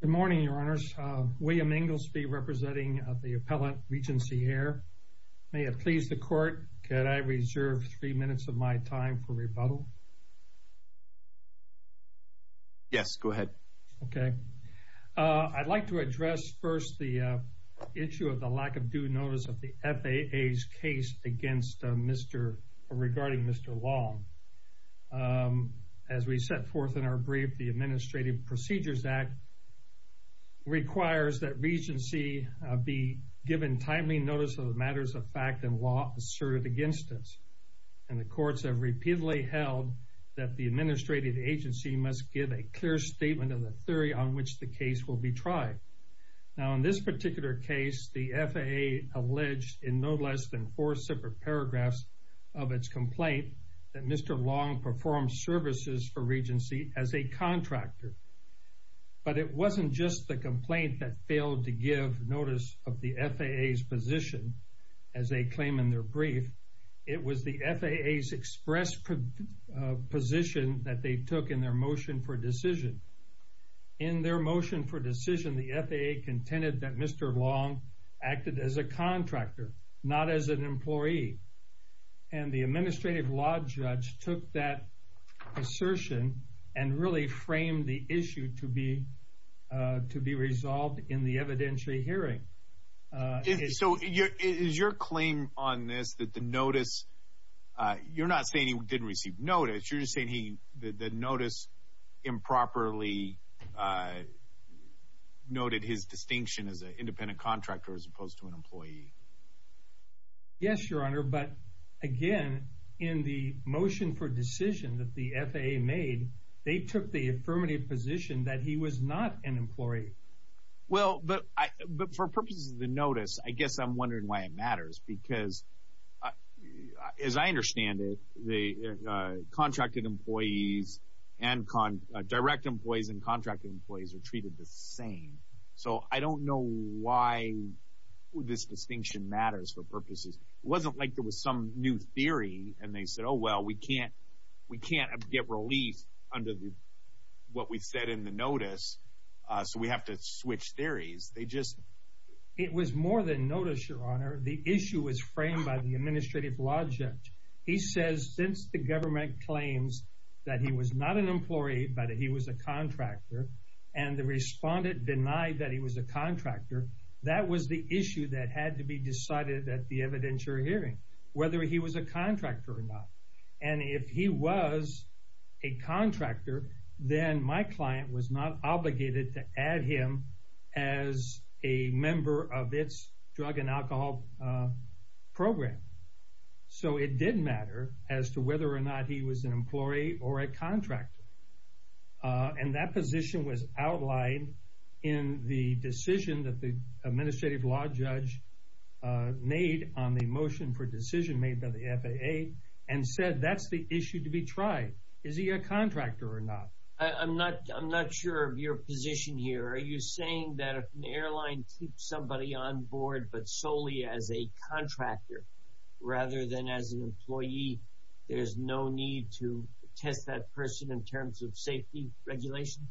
Good morning, Your Honors. William Inglesby representing the Appellant, Regency Air. May it please the Court, can I reserve three minutes of my time for rebuttal? Yes, go ahead. Okay. I'd like to address first the issue of the lack of due notice of the FAA's case regarding Mr. Long. As we set forth in our brief, the Administrative Procedures Act requires that Regency be given timely notice of the matters of fact and law asserted against it. And the Courts have repeatedly held that the Administrative Agency must give a clear statement of the theory on which the case will be tried. Now, in this particular case, the FAA alleged in no less than four separate paragraphs of its complaint that Mr. Long performed services for Regency as a contractor. But it wasn't just the complaint that failed to give notice of the FAA's position, as they claim in their brief. It was the FAA's express position that they took in their motion for decision. In their motion for decision, the FAA contended that Mr. Long acted as a contractor, not as an employee. And the Administrative Law Judge took that assertion and really framed the issue to be resolved in the evidentiary hearing. So is your claim on this that the notice, you're not saying he didn't receive notice, you're just saying he, the notice improperly noted his distinction as an independent contractor as opposed to an employee. Yes, Your Honor, but again, in the motion for decision that the FAA made, they took the affirmative position that he was not an employee. Well, but for purposes of the notice, I guess I'm wondering why it matters, because as I understand it, the contracted employees and direct employees and contracted employees are treated the same. So I don't know why this distinction matters for purposes. It wasn't like there was some new theory and they said, oh, well, we can't get relief under what we said in the notice, so we have to change that. No, Your Honor. The issue was framed by the Administrative Law Judge. He says since the government claims that he was not an employee, but that he was a contractor, and the respondent denied that he was a contractor, that was the issue that had to be decided at the evidentiary hearing, whether he was a contractor or not. And if he was a contractor, then my client was not obligated to add him as a member of its drug and alcohol program. So it did matter as to whether or not he was an employee or a contractor. And that position was outlined in the decision that the Administrative Law Judge made on the motion for decision made by the FAA and said that's the issue to be tried. Is he a contractor or not? I'm not sure of your position here. Are you saying that solely as a contractor rather than as an employee, there's no need to test that person in terms of safety regulation?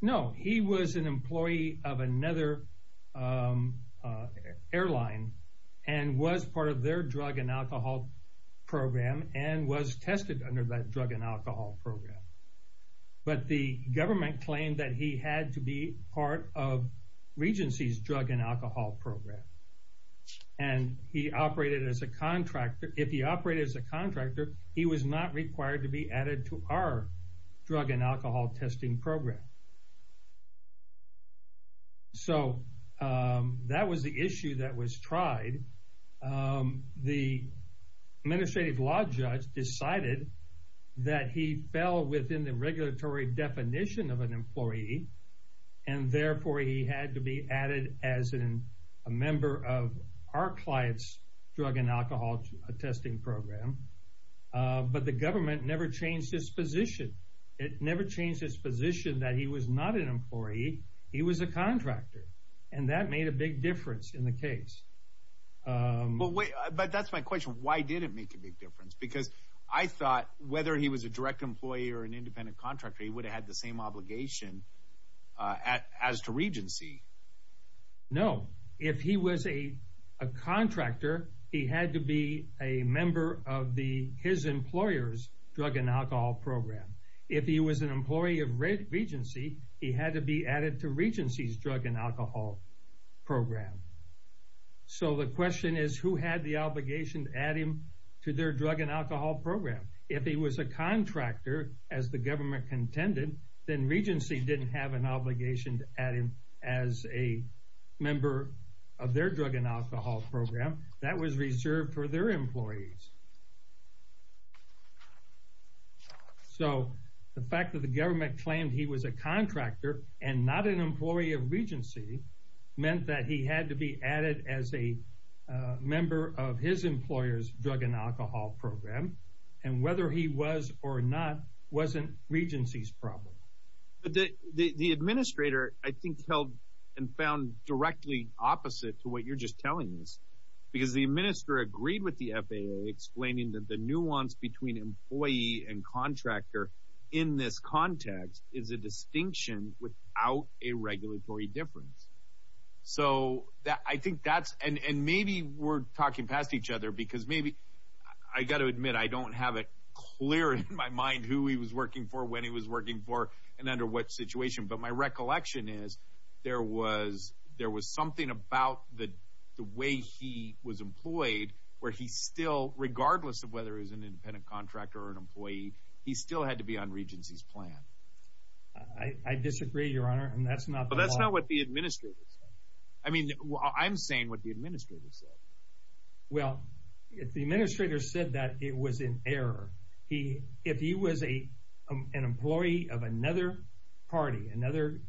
No. He was an employee of another airline and was part of their drug and alcohol program and was tested under that drug and alcohol program. But the government claimed that he had to be part of Regency's drug and alcohol program. And if he operated as a contractor, he was not required to be added to our drug and alcohol testing program. So that was the issue that was tried. The Administrative Law Judge decided that he fell within the regulatory definition of an employee and therefore he had to be added as a member of our client's drug and alcohol testing program. But the government never changed his position. It never changed his position that he was not an employee. He was a contractor. And that made a big difference in the case. But that's my question. Why did it make a big difference? Because I thought whether he was a direct employee or an independent contractor, he would have had the same obligation as to Regency. No. If he was a contractor, he had to be a member of his employer's drug and alcohol program. If he was an employee of Regency, he had to be added to Regency's drug and alcohol program. So the question is who had the obligation to add him to their drug and alcohol program. If he was a contractor, as the government contended, then Regency didn't have an obligation to add him as a member of their drug and alcohol program. That was reserved for their employees. So the fact that the government claimed he was a contractor and not an employee of Regency meant that he had to be added as a member of his employer's drug and alcohol program. And whether he was or not wasn't Regency's problem. The Administrator, I think, held and found directly opposite to what you're just telling us. Because the Administrator agreed with the FAA explaining that the nuance between employee and contractor in this context is a distinction without a regulatory difference. So I think that's, and maybe we're talking past each other because maybe, I got to admit I don't have it clear in my mind who he was working for, when he was working for, and under what situation. But my recollection is there was something about the way he was employed where he still, regardless of whether he was an independent contractor or an employee, he still had to be on Regency's plan. I disagree, Your Honor, and that's not the law. I mean, I'm saying what the Administrator said. Well, if the Administrator said that, it was in error. If he was an employee of another party, another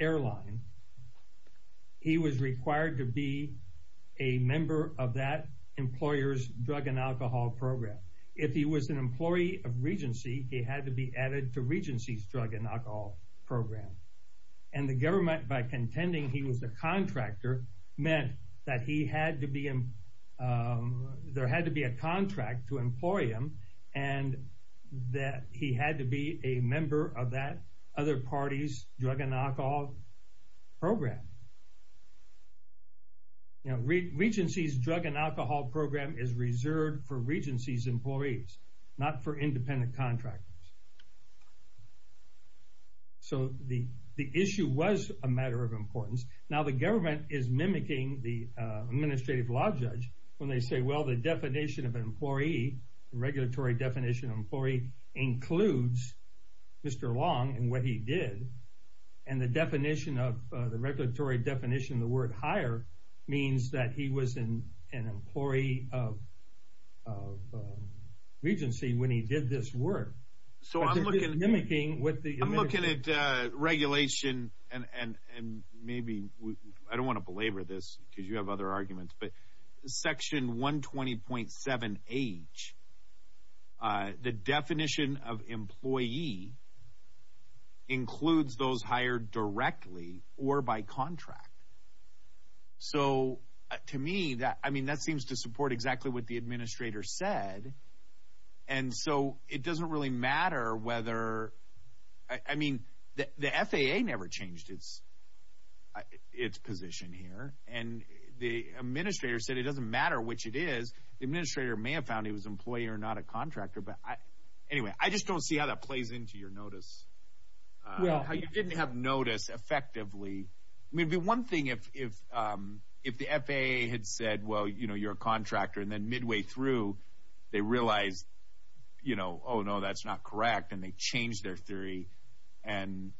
airline, he was required to be a member of that employer's drug and alcohol program. If he was an employee of Regency, he had to be added to Regency's drug and alcohol program. And the government, by contending he was a contractor, meant that he had to be, there had to be a contract to employ him and that he had to be a member of that other party's drug and alcohol program. You know, Regency's drug and alcohol program is reserved for Regency's employees, not for the government. So the issue was a matter of importance. Now, the government is mimicking the Administrative Law Judge when they say, well, the definition of an employee, the regulatory definition of an employee, includes Mr. Long and what he did. And the definition of, the regulatory definition, the word hire, means that he was an employee of Regency when he did this work. So I'm looking at regulation, and maybe, I don't want to belabor this because you have other arguments, but Section 120.7H, the definition of employee includes those hired directly or by contract. So, to me, that seems to support exactly what the Administrator said, and so it doesn't really matter whether, I mean, the FAA never changed its position here, and the Administrator said it doesn't matter which it is. The Administrator may have found he was an employee or not a contractor, but anyway, I just don't see how that plays into your notice. Well. How you didn't have notice effectively. I mean, the one thing, if the FAA had said, well, you know, you're a contractor, and then midway through, they realized, you know, oh, no, that's not correct, and they changed their theory and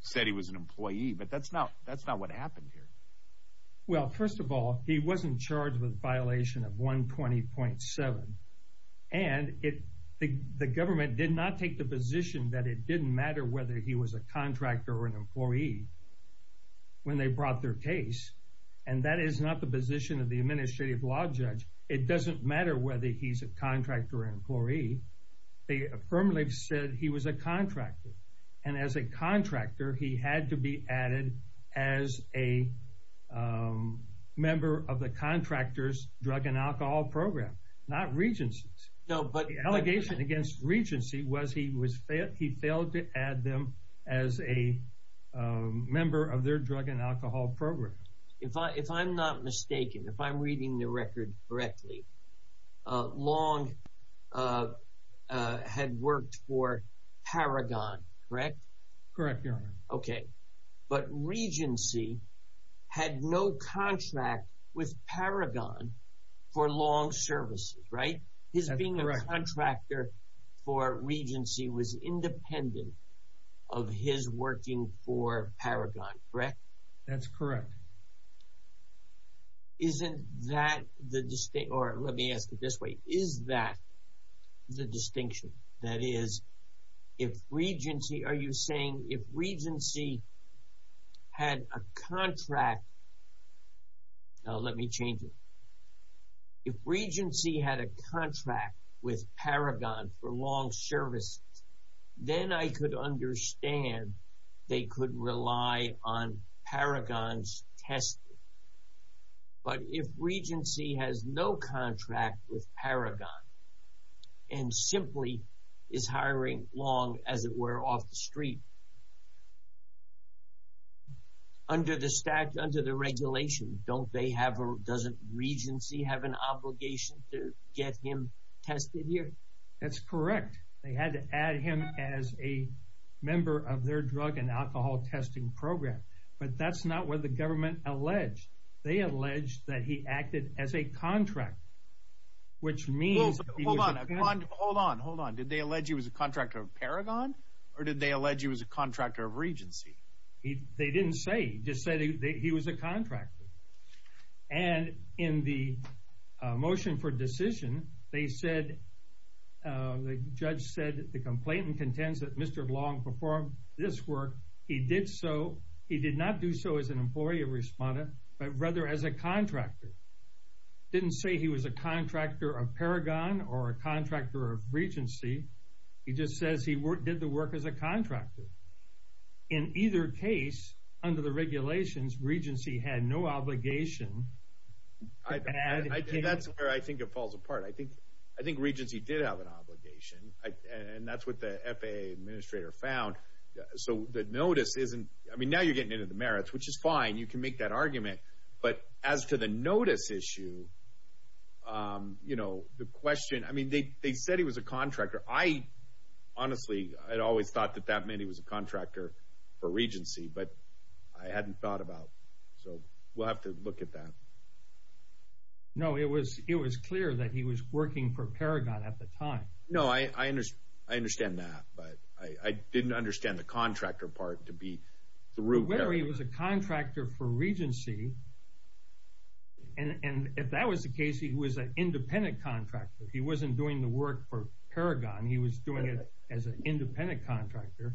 said he was an employee, but that's not what happened here. Well, first of all, he wasn't charged with a violation of 120.7, and the government did not take the position that it didn't matter whether he was a contractor or an employee when they brought their case, and that is not the position of the Administrative Law Judge. It doesn't matter whether he's a contractor or an employee. They affirmatively said he was a contractor, and as a contractor, he had to be added as a member of the Contractor's Drug and Alcohol Program, not Regency's. No, but... Member of their Drug and Alcohol Program. If I'm not mistaken, if I'm reading the record correctly, Long had worked for Paragon, correct? Correct, Your Honor. Okay. But Regency had no contract with Paragon for Long Services, right? That's correct. His being a contractor for Regency was independent of his working for Paragon. Correct? That's correct. Isn't that the distinction, or let me ask it this way. Is that the distinction? That is, if Regency, are you saying, if Regency had a contract, now let me change it. If Regency had a contract with Paragon for Long Services, then I could understand they could rely on Paragon's testing. But if Regency has no contract with Paragon, and simply is hiring Long, as it were, off the street, under the statute, under the regulation, don't they have, doesn't Regency have an obligation to get him tested here? That's correct. They had to add him as a member of their drug and alcohol testing program. But that's not what the government alleged. They alleged that he acted as a contractor, which means... Hold on, hold on, hold on. Did they allege he was a contractor of Paragon, or did they allege he was a contractor of Regency? They didn't say. They just said he was a contractor. And in the motion for decision, they said the judge said, the complainant contends that Mr. Long performed this work. He did not do so as an employee of Respondent, but rather as a contractor. Didn't say he was a contractor of Paragon, or a contractor of Regency. He just says he did the work as a contractor. In either case, under the regulations, Regency had no obligation to add him. That's where I think it falls apart. I think Regency did have an obligation, and that's what the FAA administrator found. So the notice isn't, I mean, now you're getting into the merits, which is fine. You can make that argument. But as to the notice issue, you know, the question, I mean, they said he was a contractor. I honestly, I'd always thought that that meant he was a contractor for Regency, but I hadn't thought about. So we'll have to look at that. No, it was clear that he was working for Paragon at the time. No, I understand that, but I didn't understand the contractor part to be the root. Whether he was a contractor for Regency, and if that was the case, he was an independent contractor. He wasn't doing the work for Paragon. He was doing it as an independent contractor.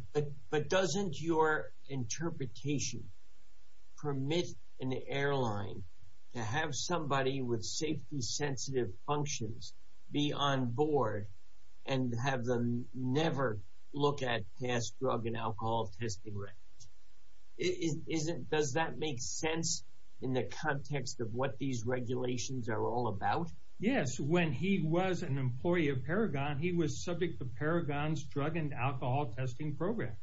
But doesn't your interpretation permit an airline to have somebody with safety-sensitive functions be on board and have them never look at past drug and alcohol testing records? Does that make sense in the context of what these regulations are all about? Yes. When he was an employee of Paragon, he was subject to Paragon's drug and alcohol testing program.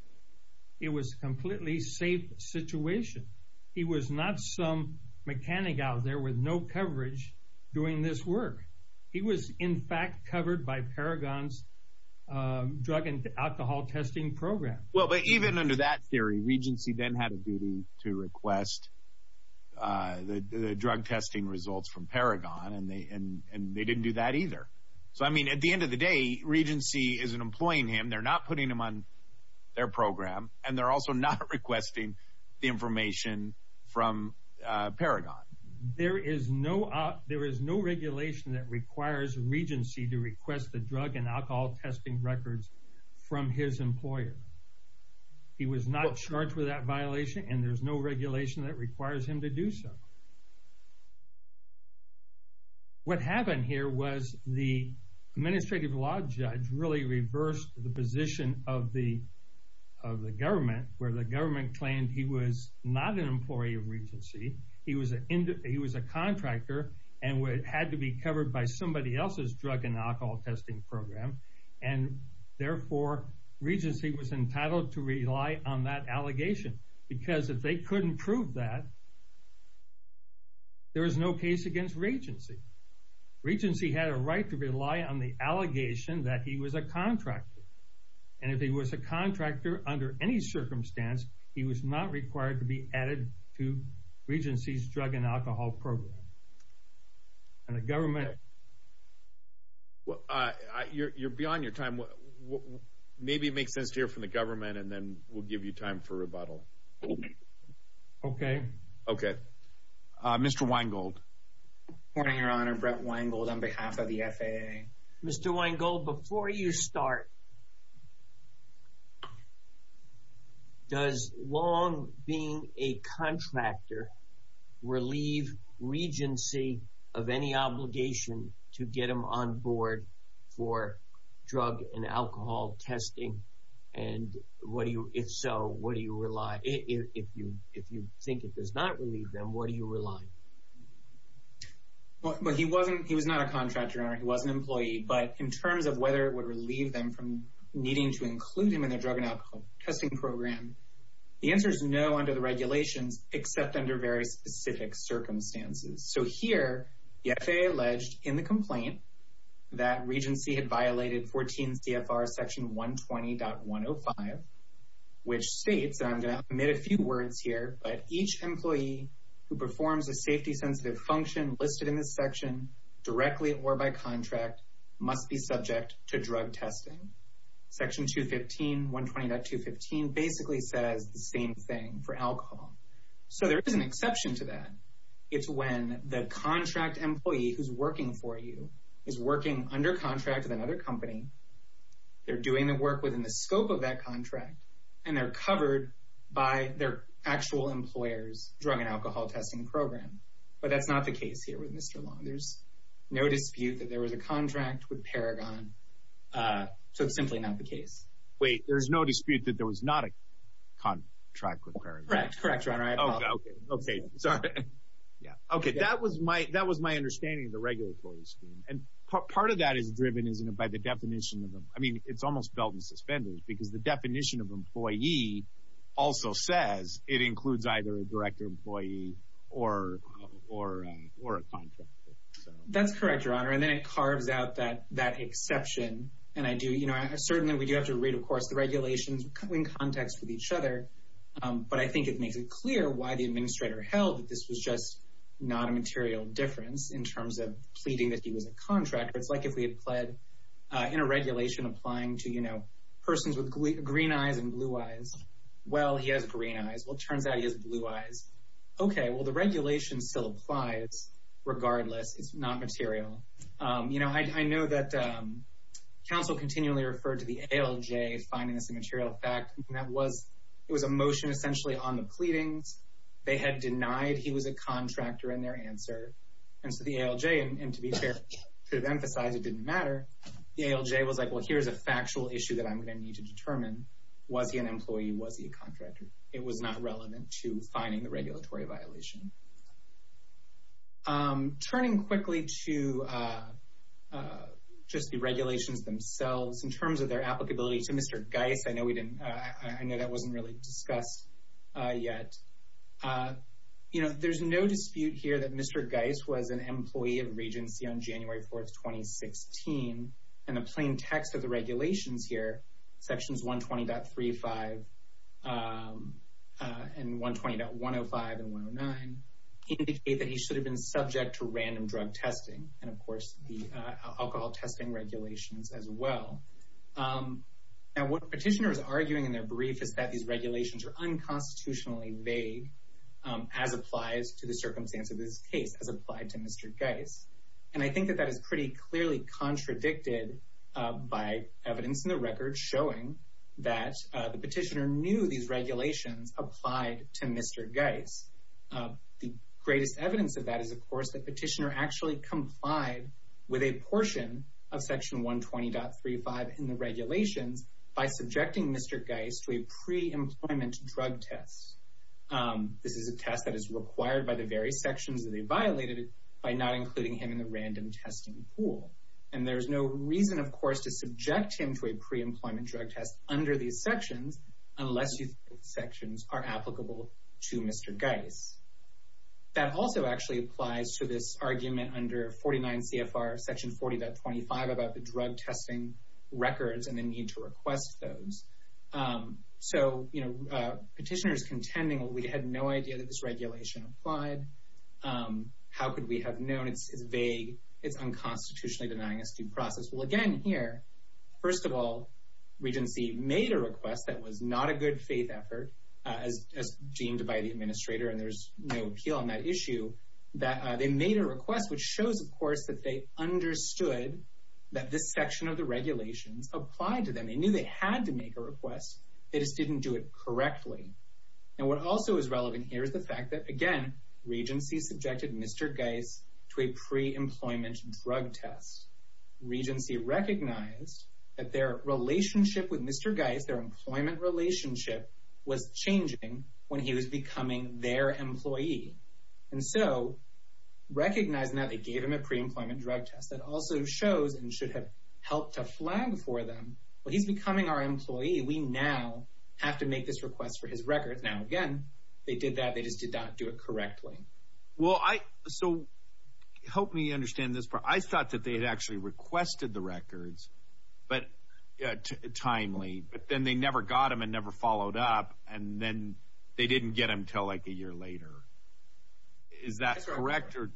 It was a completely safe situation. He was not some mechanic out there with no coverage doing this work. He was, in fact, covered by Paragon's drug and alcohol testing program. Well, but even under that theory, Regency then had a duty to request the drug testing results from Paragon, and they didn't do that either. So, I mean, at the end of the day, Regency isn't employing him. They're not putting him on their program, and they're also not requesting the information from Paragon. There is no regulation that requires Regency to request the drug and alcohol testing records from his employer. He was not charged with that violation, and there's no regulation that requires him to do so. What happened here was the administrative law judge really reversed the position of the government, where the government claimed he was not an employee of Regency. He was a contractor, and had to be covered by somebody else's drug and alcohol testing program. And, therefore, Regency was entitled to rely on that allegation, because if they couldn't prove that, there was no case against Regency. Regency had a right to rely on the allegation that he was a contractor, and if he was a contractor under any circumstance, he was not required to be added to Regency's drug and alcohol program. You're beyond your time. Maybe it makes sense to hear from the government, and then we'll give you time for rebuttal. Okay. Okay. Mr. Weingold. Good morning, Your Honor. Brett Weingold on behalf of the FAA. Mr. Weingold, before you start, does long being a contractor relieve Regency of any obligation to get him on board for drug and alcohol testing? And what do you, if so, what do you rely, if you think it does not relieve them, what do you rely? Well, he wasn't, he was not a contractor, Your Honor. He was an employee, but in terms of whether it would relieve them from needing to include him in their drug and alcohol testing program, the answer is no under the regulations, except under very specific circumstances. So here, the FAA alleged in the complaint that Regency had violated 14 CFR section 120.105, which states, and I'm going to omit a few words here, but each employee who performs a safety-sensitive function listed in this section directly or by contract must be subject to drug testing. Section 215, 120.215 basically says the same thing for alcohol. So there is an exception to that. It's when the contract employee who's working for you is working under contract with another company, they're doing the work within the scope of that contract, and they're covered by their actual employer's drug and alcohol testing program. But that's not the case here with Mr. Long. There's no dispute that there was a contract with Paragon, so it's simply not the case. Wait, there's no dispute that there was not a contract with Paragon? Correct, Your Honor. Okay, sorry. Okay, that was my understanding of the regulatory scheme. And part of the way that is driven is by the definition of, I mean, it's almost belt and suspenders, because the definition of employee also says it includes either a direct employee or a contractor. That's correct, Your Honor. And then it carves out that exception. And I do, you know, certainly we do have to read, of course, the regulations in context with each other. But I think it makes it clear why the administrator held that this was just not a material difference in terms of pleading that he was a contractor. It's like if we had pled in a regulation applying to, you know, persons with green eyes and blue eyes. Well, he has green eyes. Well, it turns out he has blue eyes. Okay, well, the regulation still applies regardless. It's not material. You know, I know that counsel continually referred to the ALJ finding this a material fact. That was, it was a motion essentially on the pleadings. They had denied he was a contractor in their answer. And so the ALJ, and to be fair, to emphasize it didn't matter, the ALJ was like, well, here's a factual issue that I'm going to need to determine. Was he an employee? Was he a contractor? It was not relevant to finding the regulatory violation. Turning quickly to just the regulations themselves in terms of their applicability to Mr. Geis. I know we didn't, I know that wasn't really discussed yet. You know, there's no dispute here that Mr. Geis was an employee of Regency on January 4th, 2016. And the plain text of the regulations here, sections 120.35 and 120.105 and 109, indicate that he should have been subject to random drug testing. And of course, the alcohol testing regulations as well. Now, what the petitioner is arguing in their brief is that these regulations are unconstitutionally vague as applies to the circumstance of this case, as applied to Mr. Geis. And I think that that is pretty clearly contradicted by evidence in the record showing that the petitioner knew these regulations applied to Mr. Geis. The greatest evidence of that is, of course, the petitioner actually complied with a portion of section 120.35 in the regulations by subjecting Mr. Geis to a pre-employment drug test. This is a test that is required by the various sections that he violated by not including him in the random testing pool. And there's no reason, of course, to subject him to a pre-employment drug test under these sections, unless these sections are applicable to Mr. Geis. That also actually applies to this argument under 49 CFR section 40.25 about the drug testing records and the need to request those. So, you know, petitioners contending, well, we had no idea that this regulation applied. How could we have known? It's vague. It's unconstitutionally denying us due process. Well, again, here, first of all, Regency made a request that was not a good faith effort, as deemed by the administrator. And there's no appeal on that issue that they made a request, which shows, of course, that they understood that this section of the regulations applied to them. They knew they had to make a request. They just didn't do it correctly. And what also is relevant here is the fact that, again, Regency subjected Mr. Geis to a pre-employment drug test. Regency recognized that their relationship with Mr. Geis, their employment relationship, was changing when he was becoming their employee. And so, recognizing that they gave him a pre-employment drug test, that also shows and should have helped to flag for them, well, he's becoming our employee. We now have to make this request for his records. Now, again, they did that. They just did not do it correctly. Well, so help me understand this part. I thought that they had actually requested the records, but timely. But then they never got them and never followed up. And then they didn't get them until, like, a year later. Is that correct, or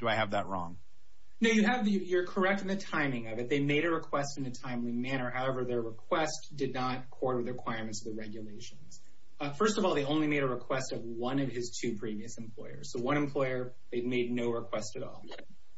do I have that wrong? No, you're correct in the timing of it. They made a request in a timely manner. However, their request did not quarter the requirements of the regulations. First of all, they only made a request of one of his two previous employers. So, one employer, they made no request at all.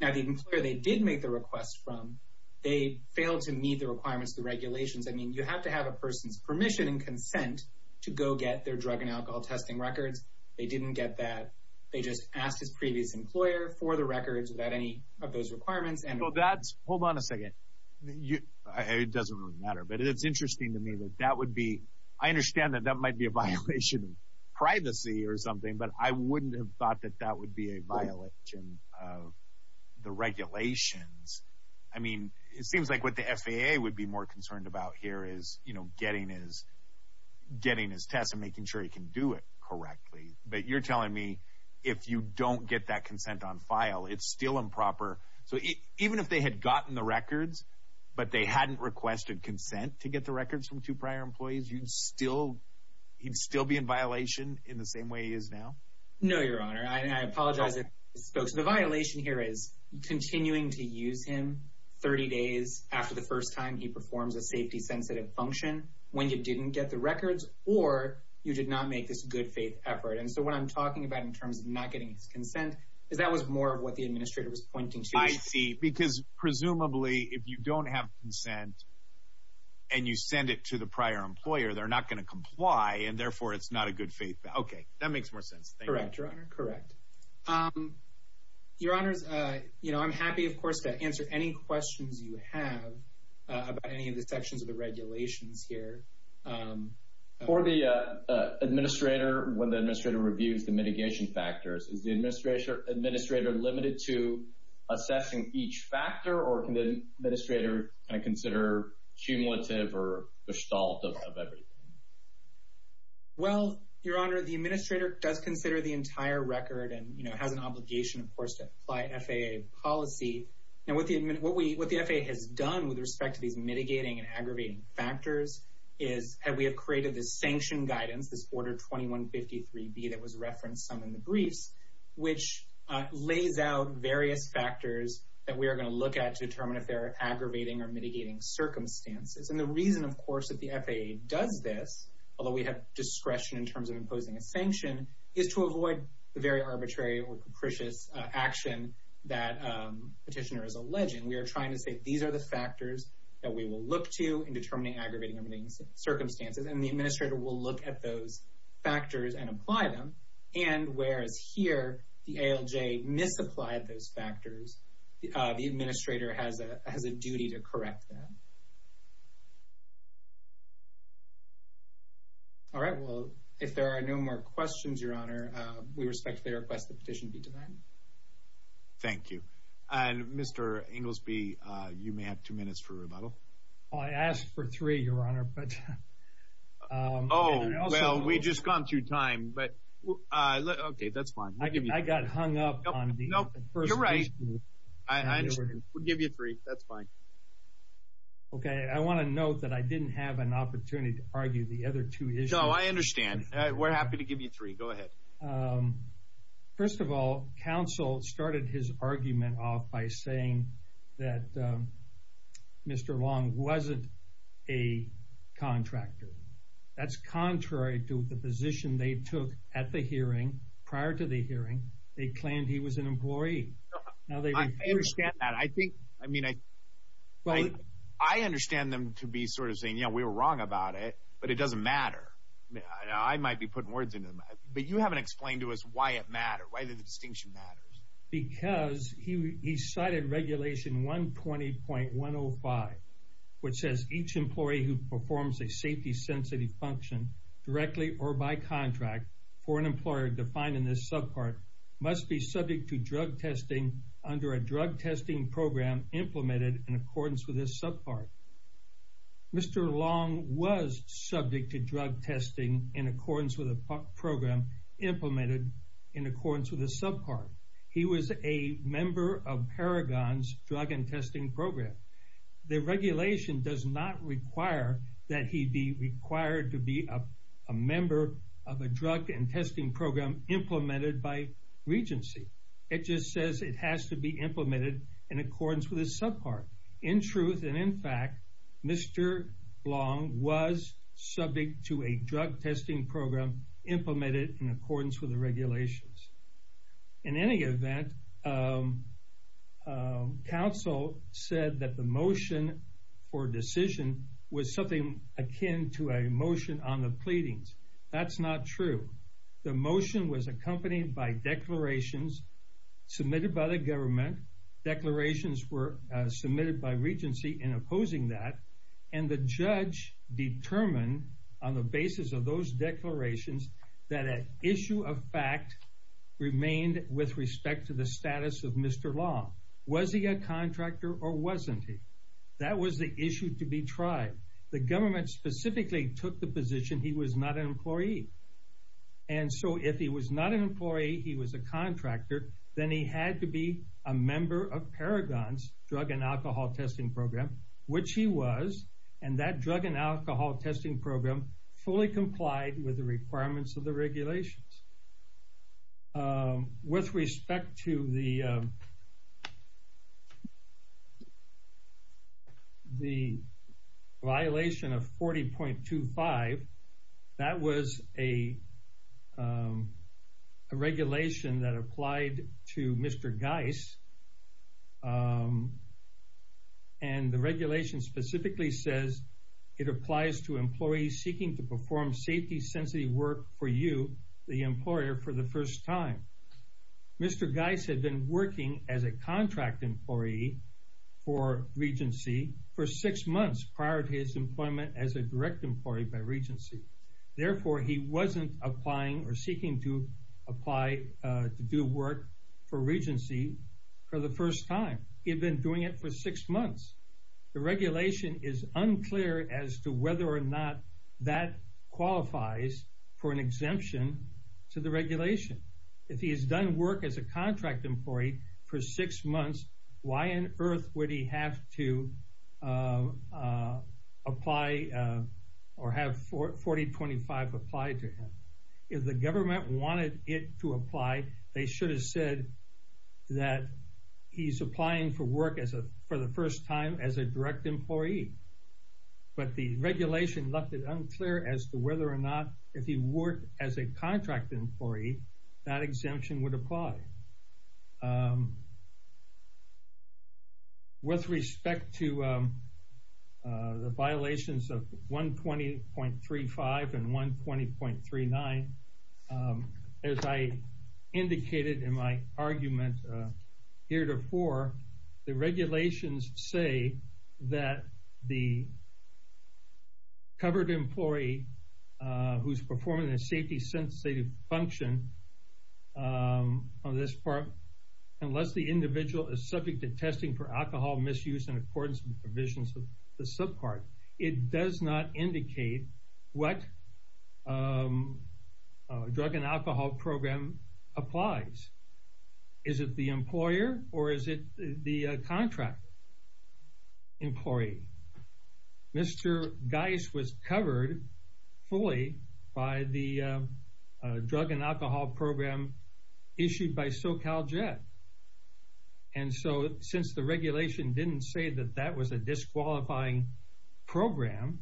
Now, the employer they did make the request from, they failed to meet the requirements of the regulations. I mean, you have to have a person's permission and consent to go get their drug and alcohol testing records. They didn't get that. They just asked his previous employer for the records without any of those requirements. Well, that's, hold on a second. It doesn't matter. But it's interesting to me that that would be, I understand that that might be a violation of privacy or something, but I wouldn't have thought that that would be a violation of the regulations. I mean, it seems like what the FAA would be more concerned about here is, you know, getting his tests and making sure he can do it correctly. But you're telling me, if you don't get that consent on file, it's still improper. So, even if they had gotten the records, but they hadn't requested consent to get the records from two prior employees, you'd still, he'd still be in violation in the same way he is now? No, your honor. I apologize if I spoke. So, the violation here is continuing to use him 30 days after the first time he performs a safety sensitive function when you didn't get the records or you did not make this good faith effort. And so, what I'm talking about in terms of not getting his consent is that was more of what the have consent and you send it to the prior employer, they're not going to comply and therefore it's not a good faith. Okay, that makes more sense. Correct, your honor. Correct. Your honors, you know, I'm happy, of course, to answer any questions you have about any of the sections of the regulations here. For the administrator, when the administrator reviews the mitigation factors, is the administrator limited to assessing each and consider cumulative or the result of everything? Well, your honor, the administrator does consider the entire record and, you know, has an obligation, of course, to apply FAA policy. Now, what the FAA has done with respect to these mitigating and aggravating factors is we have created this sanction guidance, this order 2153B that was referenced some in the briefs, which lays out various factors that we are going to look at to determine if they're aggravating or mitigating circumstances. And the reason, of course, that the FAA does this, although we have discretion in terms of imposing a sanction, is to avoid the very arbitrary or capricious action that petitioner is alleging. We are trying to say these are the factors that we will look to in determining aggravating and mitigating circumstances and the administrator will look at those factors and apply them. And whereas here, the ALJ misapplied those factors, the administrator has a duty to correct them. All right. Well, if there are no more questions, your honor, we respectfully request the petition be denied. Thank you. And Mr. Inglesby, you may have two minutes for rebuttal. Well, I asked for three, your honor, but... Oh, well, we've just gone through time, but... Okay, that's fine. I got hung up on the... No, you're right. I understand. We'll give you three. That's fine. Okay. I want to note that I didn't have an opportunity to argue the other two issues. No, I understand. We're happy to give you three. Go ahead. Well, first of all, counsel started his argument off by saying that Mr. Long wasn't a contractor. That's contrary to the position they took at the hearing. Prior to the hearing, they claimed he was an employee. Now they refuse... I understand that. I think... I mean, I... I understand them to be sort of saying, yeah, we were wrong about it, but it doesn't matter. I might be putting words into them, but you haven't explained to us why it matters, why the distinction matters. Because he cited Regulation 120.105, which says each employee who performs a safety-sensitive function directly or by contract for an employer defined in this subpart must be subject to drug testing under a drug testing program implemented in accordance with this subpart. Mr. Long was subject to drug testing in accordance with a program implemented in accordance with a subpart. He was a member of Paragon's drug and testing program. The regulation does not require that he be required to be a member of a drug and testing program implemented by Regency. It just says it has to be implemented in accordance with a subpart. In truth and in fact, Mr. Long was subject to a drug testing program implemented in accordance with the regulations. In any event, counsel said that the motion for decision was something akin to a motion on the pleadings. That's not true. The motion was accompanied by declarations submitted by the government. Declarations were submitted by Regency in opposing that. The judge determined on the basis of those declarations that an issue of fact remained with respect to the status of Mr. Long. Was he a contractor or wasn't he? That was the issue to be tried. The government specifically took the position he was not an employee. If he was not an employee, he was a contractor, then he had to be a member of Paragon's drug and alcohol testing program, which he was. That drug and alcohol testing program fully complied with the requirements of the regulations. With respect to the violation of 40.25, that was a regulation that applied to Mr. Geis. The regulation specifically says it applies to employees seeking to perform safety-sensitive work for you, the employer, for the first time. Mr. Geis had been working as a contract employee for Regency for six months prior to his employment as a direct employee by Regency. Therefore, he wasn't applying or seeking to apply to do work for Regency for the first time. He had been doing it for six months. The regulation is unclear as to whether or not that qualifies for an exemption to the regulation. If he has done work as a contract employee for six months, why on earth would he have to apply or have 40.25 apply to him? If the government wanted it to apply, they should have said that he's applying for work for the first time as a direct employee. But the regulation left it unclear as to whether or not if he worked as a contract employee, that exemption would apply. With respect to the violations of 120.35 and 120.39, as I indicated in my argument heretofore, the regulations say that the on this part, unless the individual is subject to testing for alcohol misuse in accordance with the provisions of the subpart, it does not indicate what drug and alcohol program applies. Is it the employer or is it the contract employee? Mr. Geis was covered fully by the drug and alcohol program issued by SoCalJet. And so since the regulation didn't say that that was a disqualifying program,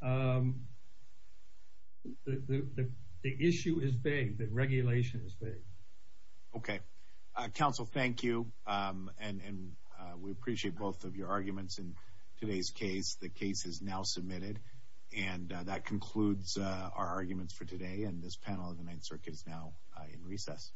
the issue is vague. The regulation is vague. Okay. Council, thank you. And we appreciate both your arguments in today's case. The case is now submitted. And that concludes our arguments for today. And this panel of the Ninth Circuit is now in recess.